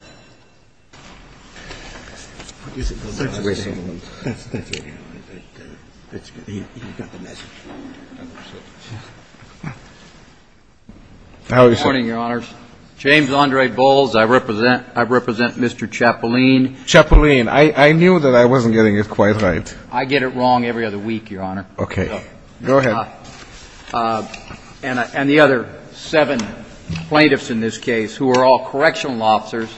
Good morning, Your Honors. James Andre Bowles. I represent Mr. Chapulin. Chapulin. I knew that I wasn't getting it quite right. I get it wrong every other week, Your Honor. Okay. Go ahead. And the other seven plaintiffs in this case who are all correctional officers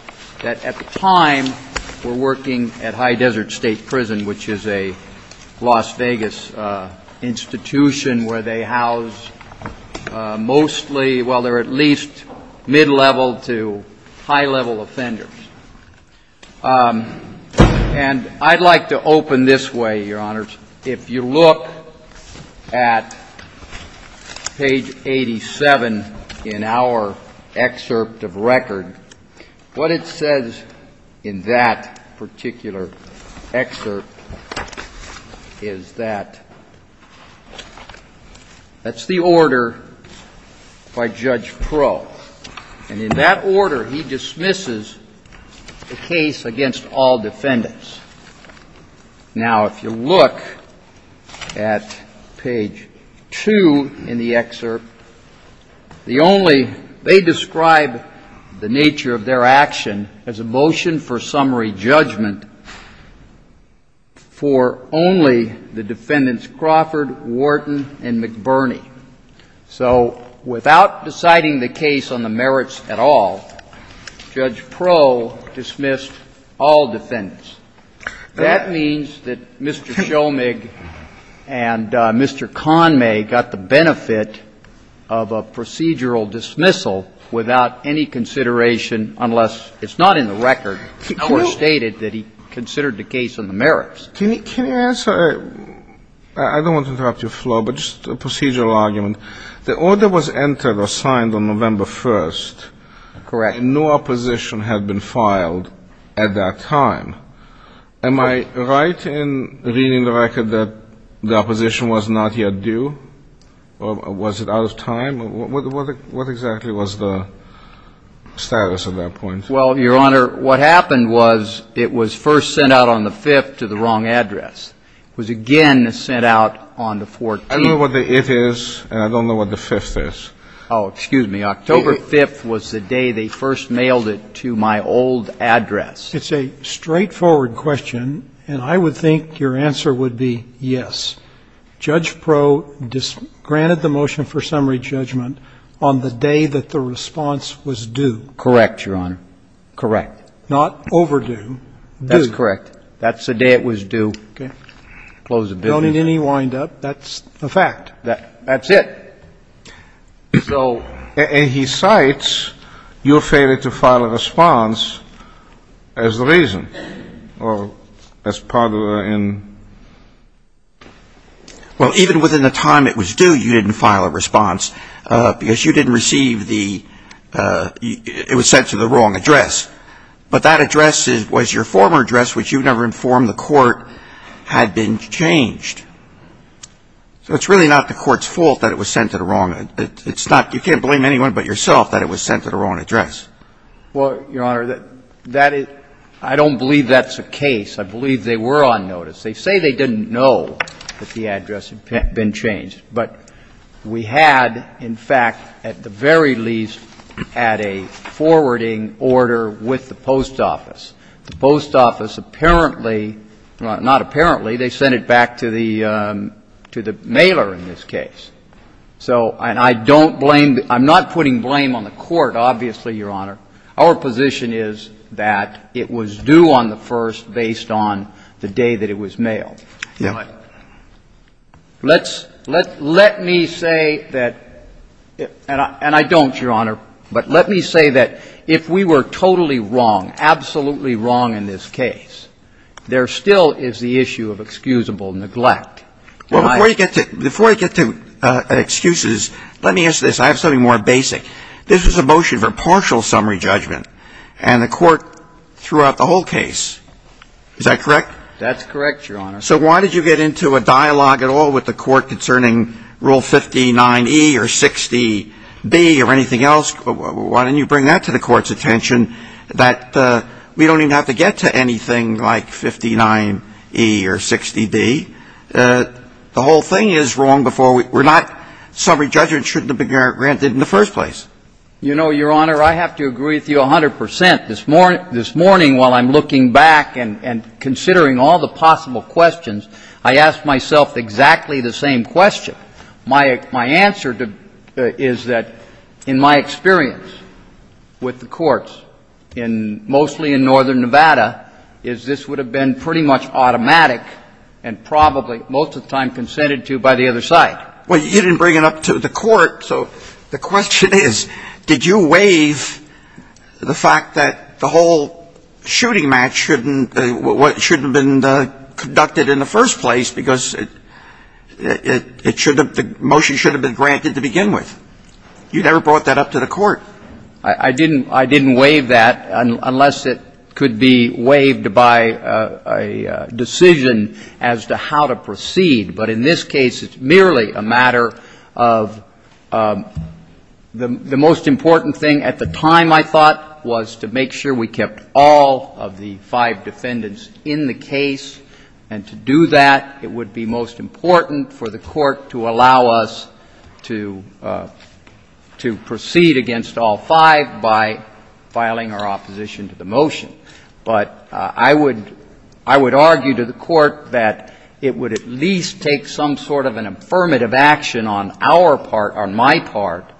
that at the time were working at High Desert State Prison, which is a Las Vegas institution where they house mostly, well, they're at least mid-level to high-level offenders. And I'd like to open this way, Your Honors. If you look at page 87 in our excerpt of record, what it says in that particular excerpt is that that's the order by Judge Pro. And in that order, he dismisses the case against all defendants. Now, if you look at page 2 in the excerpt, the only they describe the nature of their action as a motion for summary judgment for only the defendants Crawford, Wharton, and McBurney. So without deciding the case on the merits at all, Judge Pro dismissed all defendants. That means that Mr. Shomig and Mr. Conmay got the benefit of a procedural dismissal without any consideration unless it's not in the record or stated that he considered the case on the merits. Can you answer? I don't want to interrupt your flow, but just a procedural argument. The order was entered or signed on November 1st. Correct. And no opposition had been filed at that time. Am I right in reading the record that the opposition was not yet due? Or was it out of time? What exactly was the status at that point? Well, Your Honor, what happened was it was first sent out on the 5th to the wrong address. It was again sent out on the 14th. I don't know what the it is, and I don't know what the 5th is. Oh, excuse me. October 5th was the day they first mailed it to my old address. It's a straightforward question, and I would think your answer would be yes. Judge Pro granted the motion for summary judgment on the day that the response was due. Correct, Your Honor. Correct. Not overdue. Due. That's correct. That's the day it was due. Okay. Closed the business. Don't let any wind up. That's a fact. That's it. So. And he cites your failure to file a response as the reason or as part of the in. Well, even within the time it was due, you didn't file a response because you didn't receive the it was sent to the wrong address. But that address was your former address, which you never informed the court had been changed. So it's really not the court's fault that it was sent to the wrong. It's not you can't blame anyone but yourself that it was sent to the wrong address. Well, Your Honor, that is I don't believe that's a case. I believe they were on notice. They say they didn't know that the address had been changed. But we had, in fact, at the very least, had a forwarding order with the post office. The post office apparently, not apparently, they sent it back to the mailer in this case. So and I don't blame I'm not putting blame on the court, obviously, Your Honor. Our position is that it was due on the first based on the day that it was mailed. But let's let let me say that, and I don't, Your Honor, but let me say that if we were totally wrong, absolutely wrong in this case, there still is the issue of excusable neglect. Well, before you get to before you get to excuses, let me ask this. I have something more basic. This was a motion for partial summary judgment. And the court threw out the whole case. Is that correct? That's correct, Your Honor. So why did you get into a dialogue at all with the court concerning Rule 59E or 60B or anything else? Why didn't you bring that to the court's attention that we don't even have to get to anything like 59E or 60B? The whole thing is wrong before we're not summary judgment shouldn't have been granted in the first place. You know, Your Honor, I have to agree with you 100 percent. This morning while I'm looking back and considering all the possible questions, I asked myself exactly the same question. My answer is that in my experience with the courts, mostly in northern Nevada, is this would have been pretty much automatic and probably most of the time consented to by the other side. Well, you didn't bring it up to the court, so the question is, did you waive the fact that the whole shooting match shouldn't have been conducted in the first place because the motion should have been granted to begin with? You never brought that up to the court. I didn't waive that unless it could be waived by a decision as to how to proceed. But in this case, it's merely a matter of the most important thing at the time, I thought, was to make sure we kept all of the five defendants in the case. And to do that, it would be most important for the court to allow us to proceed against all five by filing our opposition to the motion. But I would argue to the court that it would at least take some sort of an affirmative action on our part, on my part,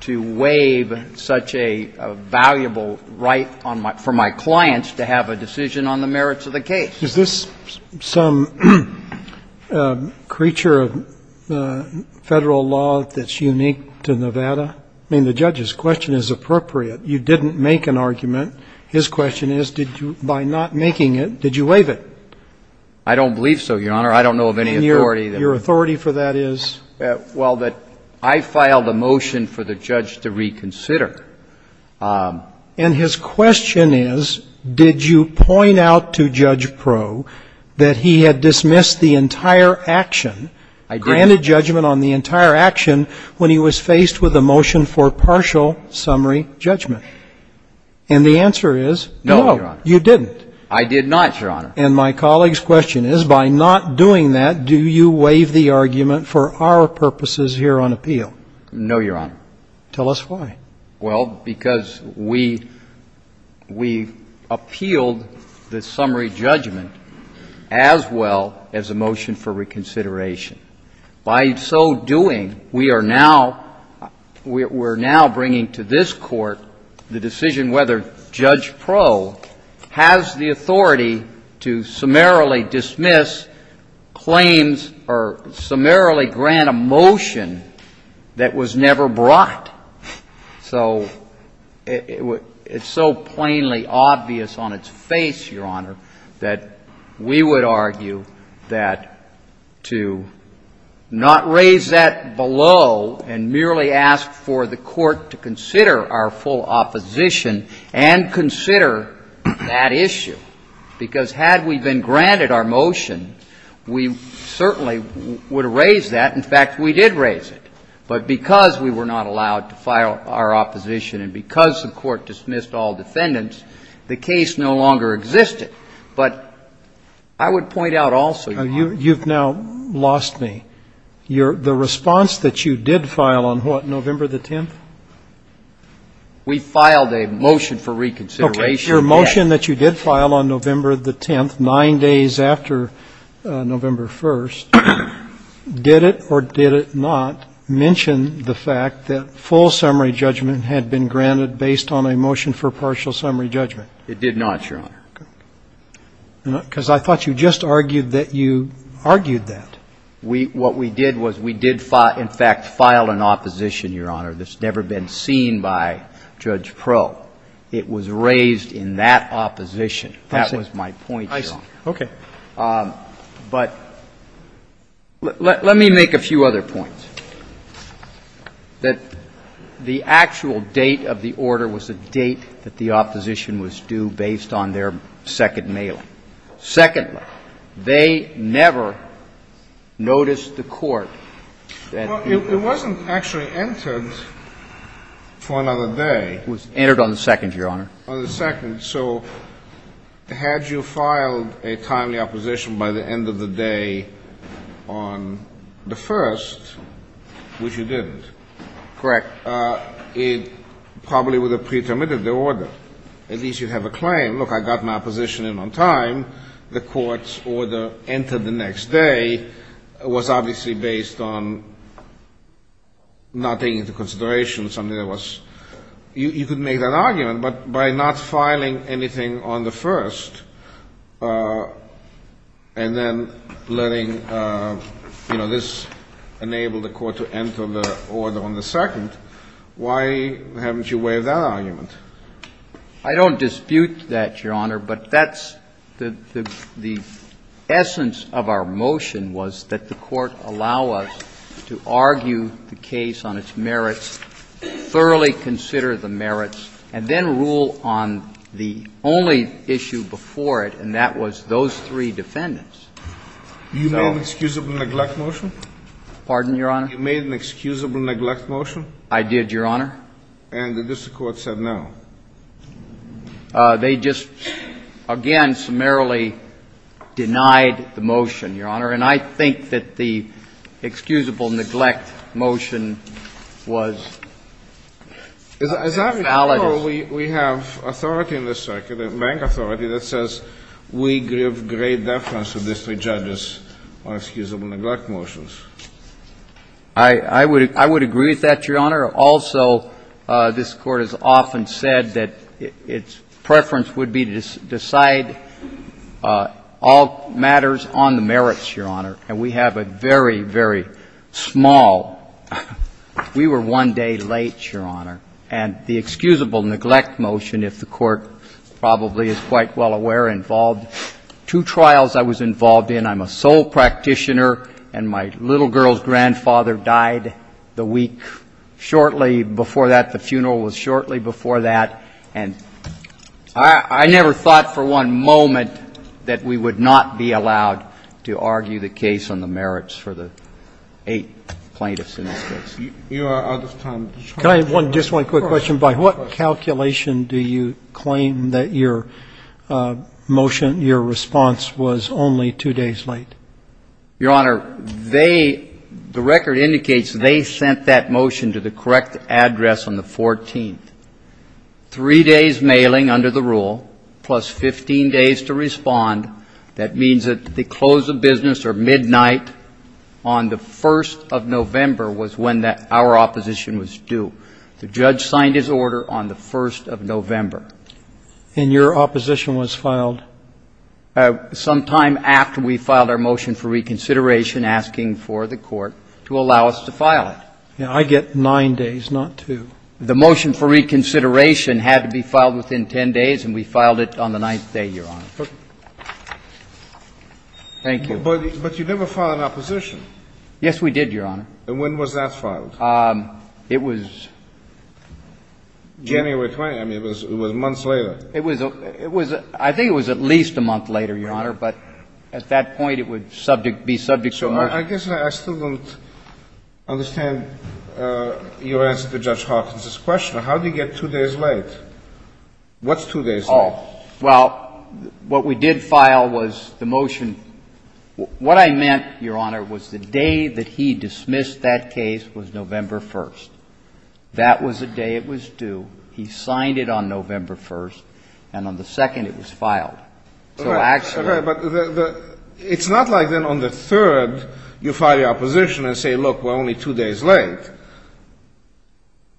to waive such a valuable right for my clients to have a decision on the merits of the case. Is this some creature of Federal law that's unique to Nevada? I mean, the judge's question is appropriate. You didn't make an argument. His question is, did you by not making it, did you waive it? I don't believe so, Your Honor. I don't know of any authority. And your authority for that is? Well, that I filed a motion for the judge to reconsider. And his question is, did you point out to Judge Proulx that he had dismissed the entire action, granted judgment on the entire action when he was faced with a motion for partial summary judgment? And the answer is, no, you didn't. I did not, Your Honor. And my colleague's question is, by not doing that, do you waive the argument for our purposes here on appeal? No, Your Honor. Tell us why. Well, because we appealed the summary judgment as well as a motion for reconsideration. By so doing, we are now bringing to this Court the decision whether Judge Proulx has the authority to summarily dismiss claims or summarily grant a motion that was never brought. So it's so plainly obvious on its face, Your Honor, that we would argue that to not raise that below and merely ask for the Court to consider our full opposition and consider that issue. Because had we been granted our motion, we certainly would have raised that. In fact, we did raise it. But because we were not allowed to file our opposition and because the Court dismissed all defendants, the case no longer existed. But I would point out also, Your Honor. You've now lost me. The response that you did file on what, November the 10th? We filed a motion for reconsideration. Okay. Your motion that you did file on November the 10th, 9 days after November 1st, did it or did it not mention the fact that full summary judgment had been granted based on a motion for partial summary judgment? It did not, Your Honor. Because I thought you just argued that you argued that. What we did was we did in fact file an opposition, Your Honor, that's never been seen by Judge Pro. It was raised in that opposition. That was my point, Your Honor. I see. Okay. But let me make a few other points. That the actual date of the order was a date that the opposition was due based on their second mail-in. Secondly, they never noticed the court that it was. Well, it wasn't actually entered for another day. It was entered on the second, Your Honor. On the second. So had you filed a timely opposition by the end of the day on the first, which you didn't. Correct. It probably would have pretermitted the order. At least you have a claim. Look, I got my opposition in on time. The court's order entered the next day was obviously based on not taking into consideration something that was. You could make that argument. But by not filing anything on the first and then letting, you know, this enable the court to enter the order on the second, why haven't you waived that argument? I don't dispute that, Your Honor. But that's the essence of our motion was that the court allow us to argue the case on its merits, thoroughly consider the merits, and then rule on the only issue before it, and that was those three defendants. You made an excusable neglect motion? Pardon, Your Honor? You made an excusable neglect motion? I did, Your Honor. And the district court said no? They just, again, summarily denied the motion, Your Honor. And I think that the excusable neglect motion was valid. Is that because we have authority in this circuit, bank authority, that says we give great deference to district judges on excusable neglect motions? I would agree with that, Your Honor. Also, this Court has often said that its preference would be to decide all matters on the merits, Your Honor. And we have a very, very small, we were one day late, Your Honor. And the excusable neglect motion, if the Court probably is quite well aware, involved two trials I was involved in. And I'm a sole practitioner, and my little girl's grandfather died the week shortly before that. The funeral was shortly before that. And I never thought for one moment that we would not be allowed to argue the case on the merits for the eight plaintiffs in this case. You are out of time. Just one quick question. By what calculation do you claim that your motion, your response, was only two days late? Your Honor, they, the record indicates they sent that motion to the correct address on the 14th. Three days mailing under the rule, plus 15 days to respond. That means that the close of business or midnight on the 1st of November was when our opposition was due. The judge signed his order on the 1st of November. And your opposition was filed? Sometime after we filed our motion for reconsideration, asking for the Court to allow us to file it. I get nine days, not two. The motion for reconsideration had to be filed within 10 days, and we filed it on the ninth day, Your Honor. Thank you. But you never filed an opposition. Yes, we did, Your Honor. And when was that filed? It was January 20th. I mean, it was months later. It was, I think it was at least a month later, Your Honor, but at that point it would subject, be subject to a motion. I guess I still don't understand your answer to Judge Hawkins's question. How do you get two days late? What's two days late? Well, what we did file was the motion. What I meant, Your Honor, was the day that he dismissed that case was November That was the day it was due. He signed it on November 1st, and on the second it was filed. All right, but it's not like then on the third you file your opposition and say, look, we're only two days late.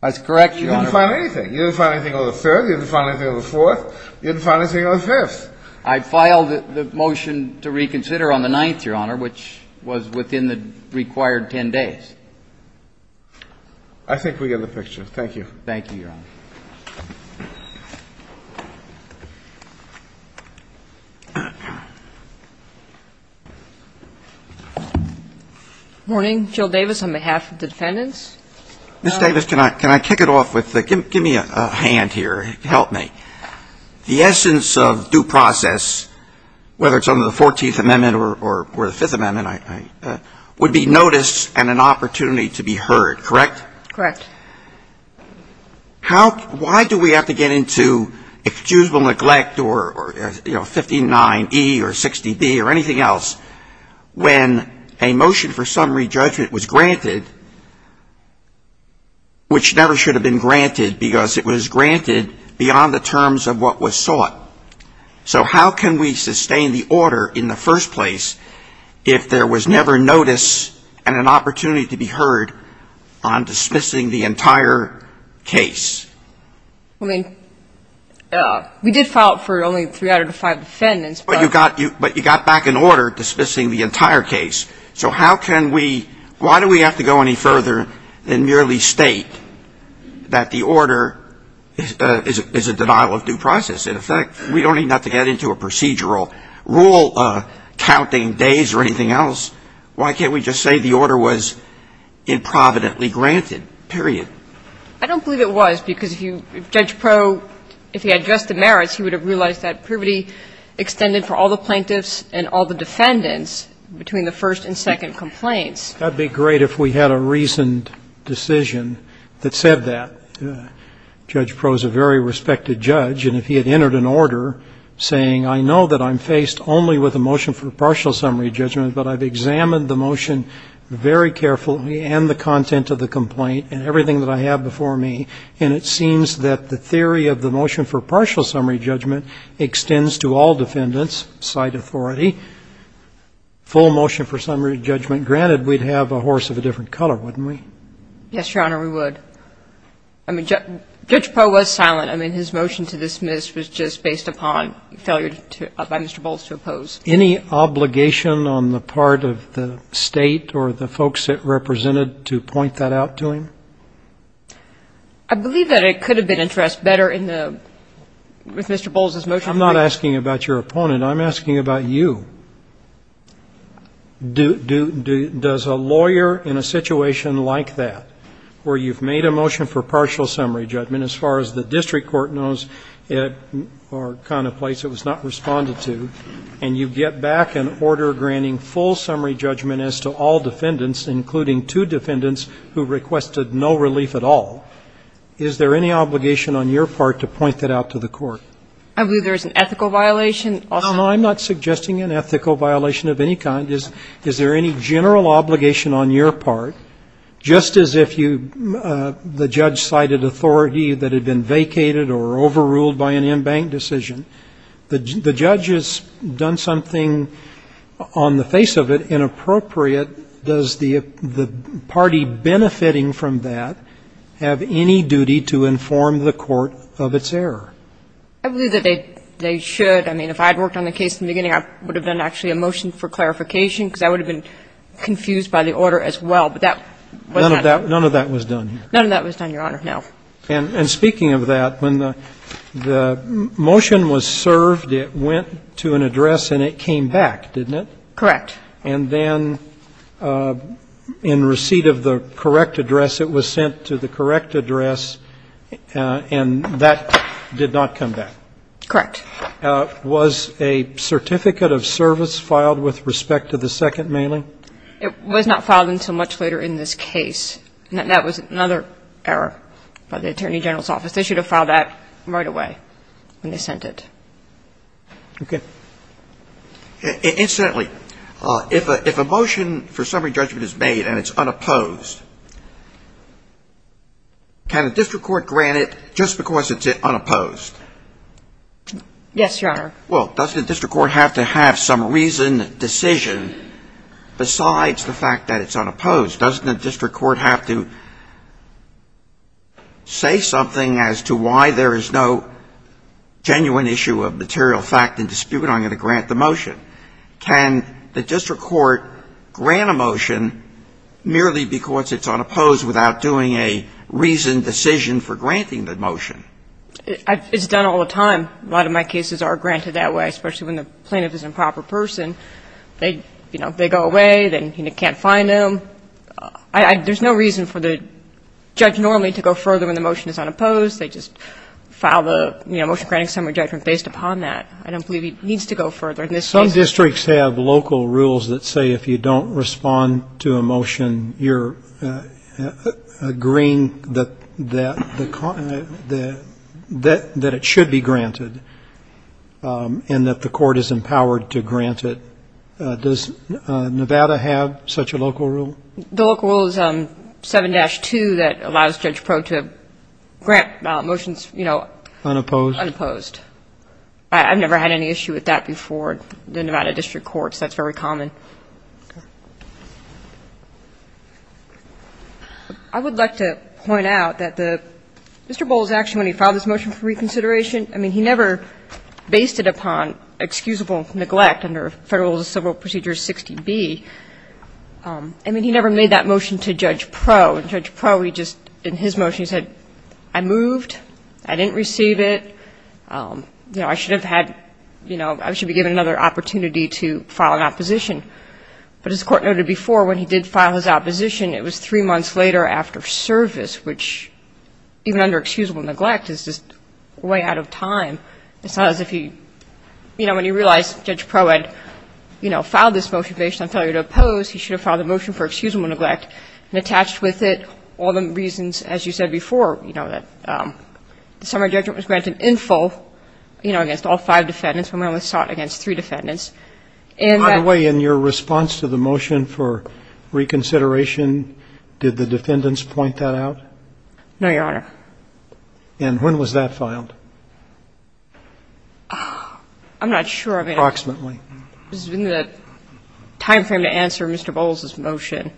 That's correct, Your Honor. You didn't file anything. You didn't file anything on the third. You didn't file anything on the fourth. You didn't file anything on the fifth. I filed the motion to reconsider on the ninth, Your Honor, which was within the required 10 days. I think we get the picture. Thank you. Thank you, Your Honor. Morning. Jill Davis on behalf of the defendants. Ms. Davis, can I kick it off with the – give me a hand here. Help me. The essence of due process, whether it's under the 14th Amendment or the Fifth Amendment, would be notice and an opportunity to be heard, correct? Correct. Why do we have to get into excusable neglect or 59E or 60B or anything else when a motion for summary judgment was granted, which never should have been granted because it was granted beyond the terms of what was sought? So how can we sustain the order in the first place if there was never notice and an opportunity to be heard on dismissing the entire case? I mean, we did file it for only three out of the five defendants. But you got back an order dismissing the entire case. So how can we – why do we have to go any further and merely state that the order is a denial of due process? In effect, we don't even have to get into a procedural rule counting days or anything else. Why can't we just say the order was improvidently granted, period? I don't believe it was, because if you – Judge Proe, if he had just the merits, he would have realized that privity extended for all the plaintiffs and all the defendants between the first and second complaints. That would be great if we had a reasoned decision that said that. Judge Proe is a very respected judge. And if he had entered an order saying, I know that I'm faced only with a motion for partial summary judgment, but I've examined the motion very carefully and the content of the complaint and everything that I have before me, and it seems that the theory of the motion for partial summary judgment extends to all defendants, side authority, full motion for summary judgment. Granted, we'd have a horse of a different color, wouldn't we? Yes, Your Honor, we would. I mean, Judge Proe was silent. I mean, his motion to dismiss was just based upon failure by Mr. Bolz to oppose. Any obligation on the part of the State or the folks it represented to point that out to him? I believe that it could have been addressed better in the – with Mr. Bolz's motion. I'm not asking about your opponent. I'm asking about you. Does a lawyer in a situation like that, where you've made a motion for partial summary judgment, as far as the district court knows, or kind of place it was not responded to, and you get back an order granting full summary judgment as to all defendants, including two defendants who requested no relief at all, is there any obligation on your part to point that out to the court? I believe there is an ethical violation. No, no, I'm not suggesting an ethical violation of any kind. Is there any general obligation on your part, just as if you – the judge cited authority that had been vacated or overruled by an embanked decision, the judge has done something on the face of it inappropriate, does the party benefiting from that have any duty to inform the court of its error? I believe that they should. I mean, if I had worked on the case in the beginning, I would have done actually a motion for clarification, because I would have been confused by the order as well. But that was not done. None of that was done. None of that was done, Your Honor. No. And speaking of that, when the motion was served, it went to an address and it came back, didn't it? Correct. And then in receipt of the correct address, it was sent to the correct address, and that did not come back? Correct. Was a certificate of service filed with respect to the second mailing? It was not filed until much later in this case. That was another error by the Attorney General's office. They should have filed that right away when they sent it. Okay. Incidentally, if a motion for summary judgment is made and it's unopposed, can a district court grant it just because it's unopposed? Yes, Your Honor. Well, doesn't a district court have to have some reason, decision, besides the fact that it's unopposed? Doesn't a district court have to say something as to why there is no genuine issue of material fact and dispute on how to grant the motion? Can the district court grant a motion merely because it's unopposed without doing a reasoned decision for granting the motion? It's done all the time. A lot of my cases are granted that way, especially when the plaintiff is an improper person. They go away. They can't find them. There's no reason for the judge normally to go further when the motion is unopposed. They just file the motion granting summary judgment based upon that. I don't believe it needs to go further in this case. Some districts have local rules that say if you don't respond to a motion, you're agreeing that it should be granted and that the court is empowered to grant it. Does Nevada have such a local rule? The local rule is 7-2 that allows Judge Proulx to grant motions, you know, unopposed. I've never had any issue with that before in the Nevada district courts. That's very common. I would like to point out that Mr. Bowles actually, when he filed this motion for Federal Civil Procedures 60B, I mean, he never made that motion to Judge Proulx. Judge Proulx, in his motion, he said, I moved. I didn't receive it. You know, I should have had, you know, I should be given another opportunity to file an opposition. But as the Court noted before, when he did file his opposition, it was three months later after service, which even under excusable neglect is just way out of time. It's not as if he, you know, when he realized Judge Proulx had, you know, filed this motion based on failure to oppose, he should have filed the motion for excusable neglect and attached with it all the reasons, as you said before, you know, that the summary judgment was granted in full, you know, against all five defendants when one was sought against three defendants. By the way, in your response to the motion for reconsideration, did the defendants point that out? No, Your Honor. And when was that filed? I'm not sure. Approximately. This has been the timeframe to answer Mr. Bowles's motion.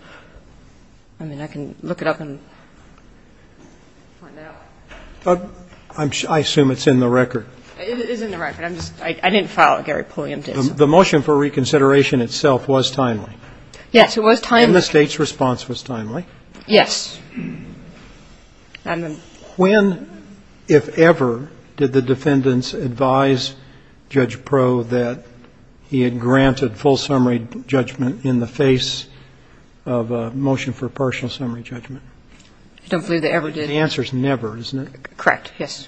I mean, I can look it up and find out. I assume it's in the record. It is in the record. I didn't file it. Gary Pulliam did. The motion for reconsideration itself was timely. Yes, it was timely. And the State's response was timely. Yes. When, if ever, did the defendants advise Judge Proh that he had granted full summary judgment in the face of a motion for partial summary judgment? I don't believe they ever did. The answer is never, isn't it? Correct. Yes.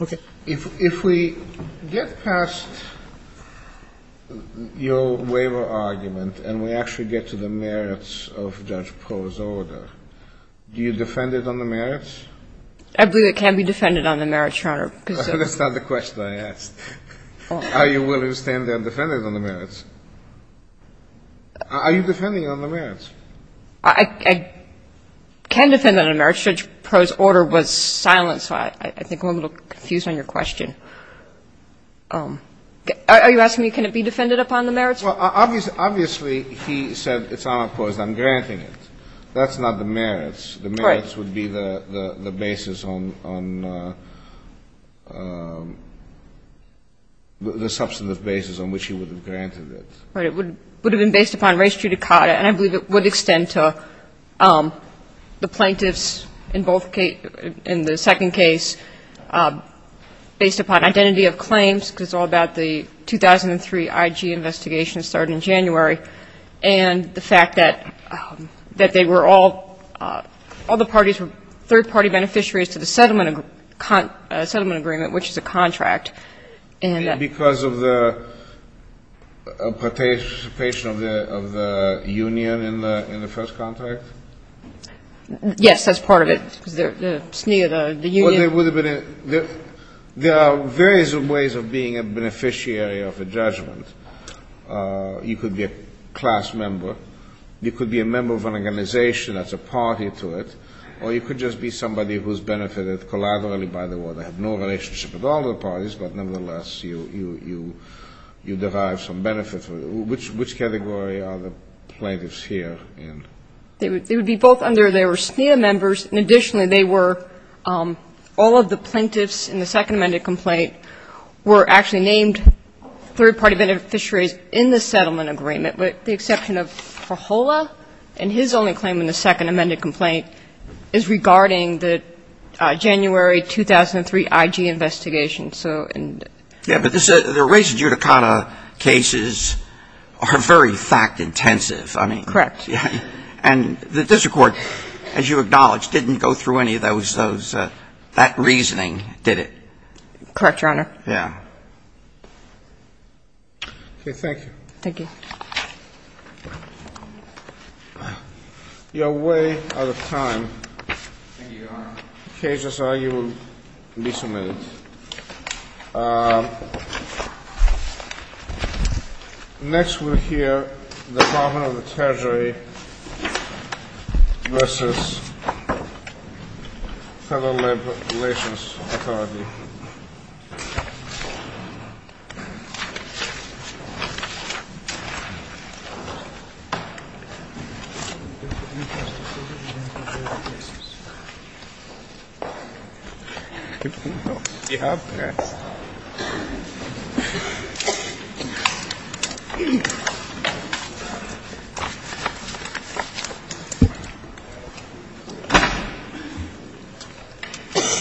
Okay. If we get past your waiver argument and we actually get to the merits of Judge Proh's order, do you defend it on the merits? I believe it can be defended on the merits, Your Honor. That's not the question I asked. Are you willing to stand there and defend it on the merits? Are you defending it on the merits? I can defend it on the merits. Judge Proh's order was silent, so I think I'm a little confused on your question. Are you asking me can it be defended upon the merits? Well, obviously he said it's unopposed. I'm granting it. That's not the merits. The merits would be the basis on the substantive basis on which he would have granted it. Right. It would have been based upon res judicata, and I believe it would extend to the plaintiffs in both cases, in the second case, based upon identity of claims, because it's all about the 2003 IG investigation that started in January, and the fact that they were all, all the parties were third-party beneficiaries to the settlement agreement, which is a contract. Because of the participation of the union in the first contract? Yes, that's part of it. Because the SNIA, the union. There are various ways of being a beneficiary of a judgment. You could be a class member. You could be a member of an organization that's a party to it, or you could just be somebody who's benefited collaterally by the war. They have no relationship with all the parties, but, nevertheless, you derive some benefits. Which category are the plaintiffs here in? They would be both under their SNIA members, and, additionally, they were all of the plaintiffs in the second amended complaint were actually named third-party beneficiaries in the settlement agreement, with the exception of Fajola, and his only claim in the second amended complaint is regarding the January 2003 IG investigation. Yeah, but the res judicata cases are very fact-intensive. Correct. And the district court, as you acknowledge, didn't go through any of those – that reasoning, did it? Correct, Your Honor. Yeah. Okay, thank you. Thank you. You are way out of time. Thank you, Your Honor. The cases are, you will be submitted. Next, we'll hear the Department of the Treasury versus Federal Labor Relations Authority. Thank you.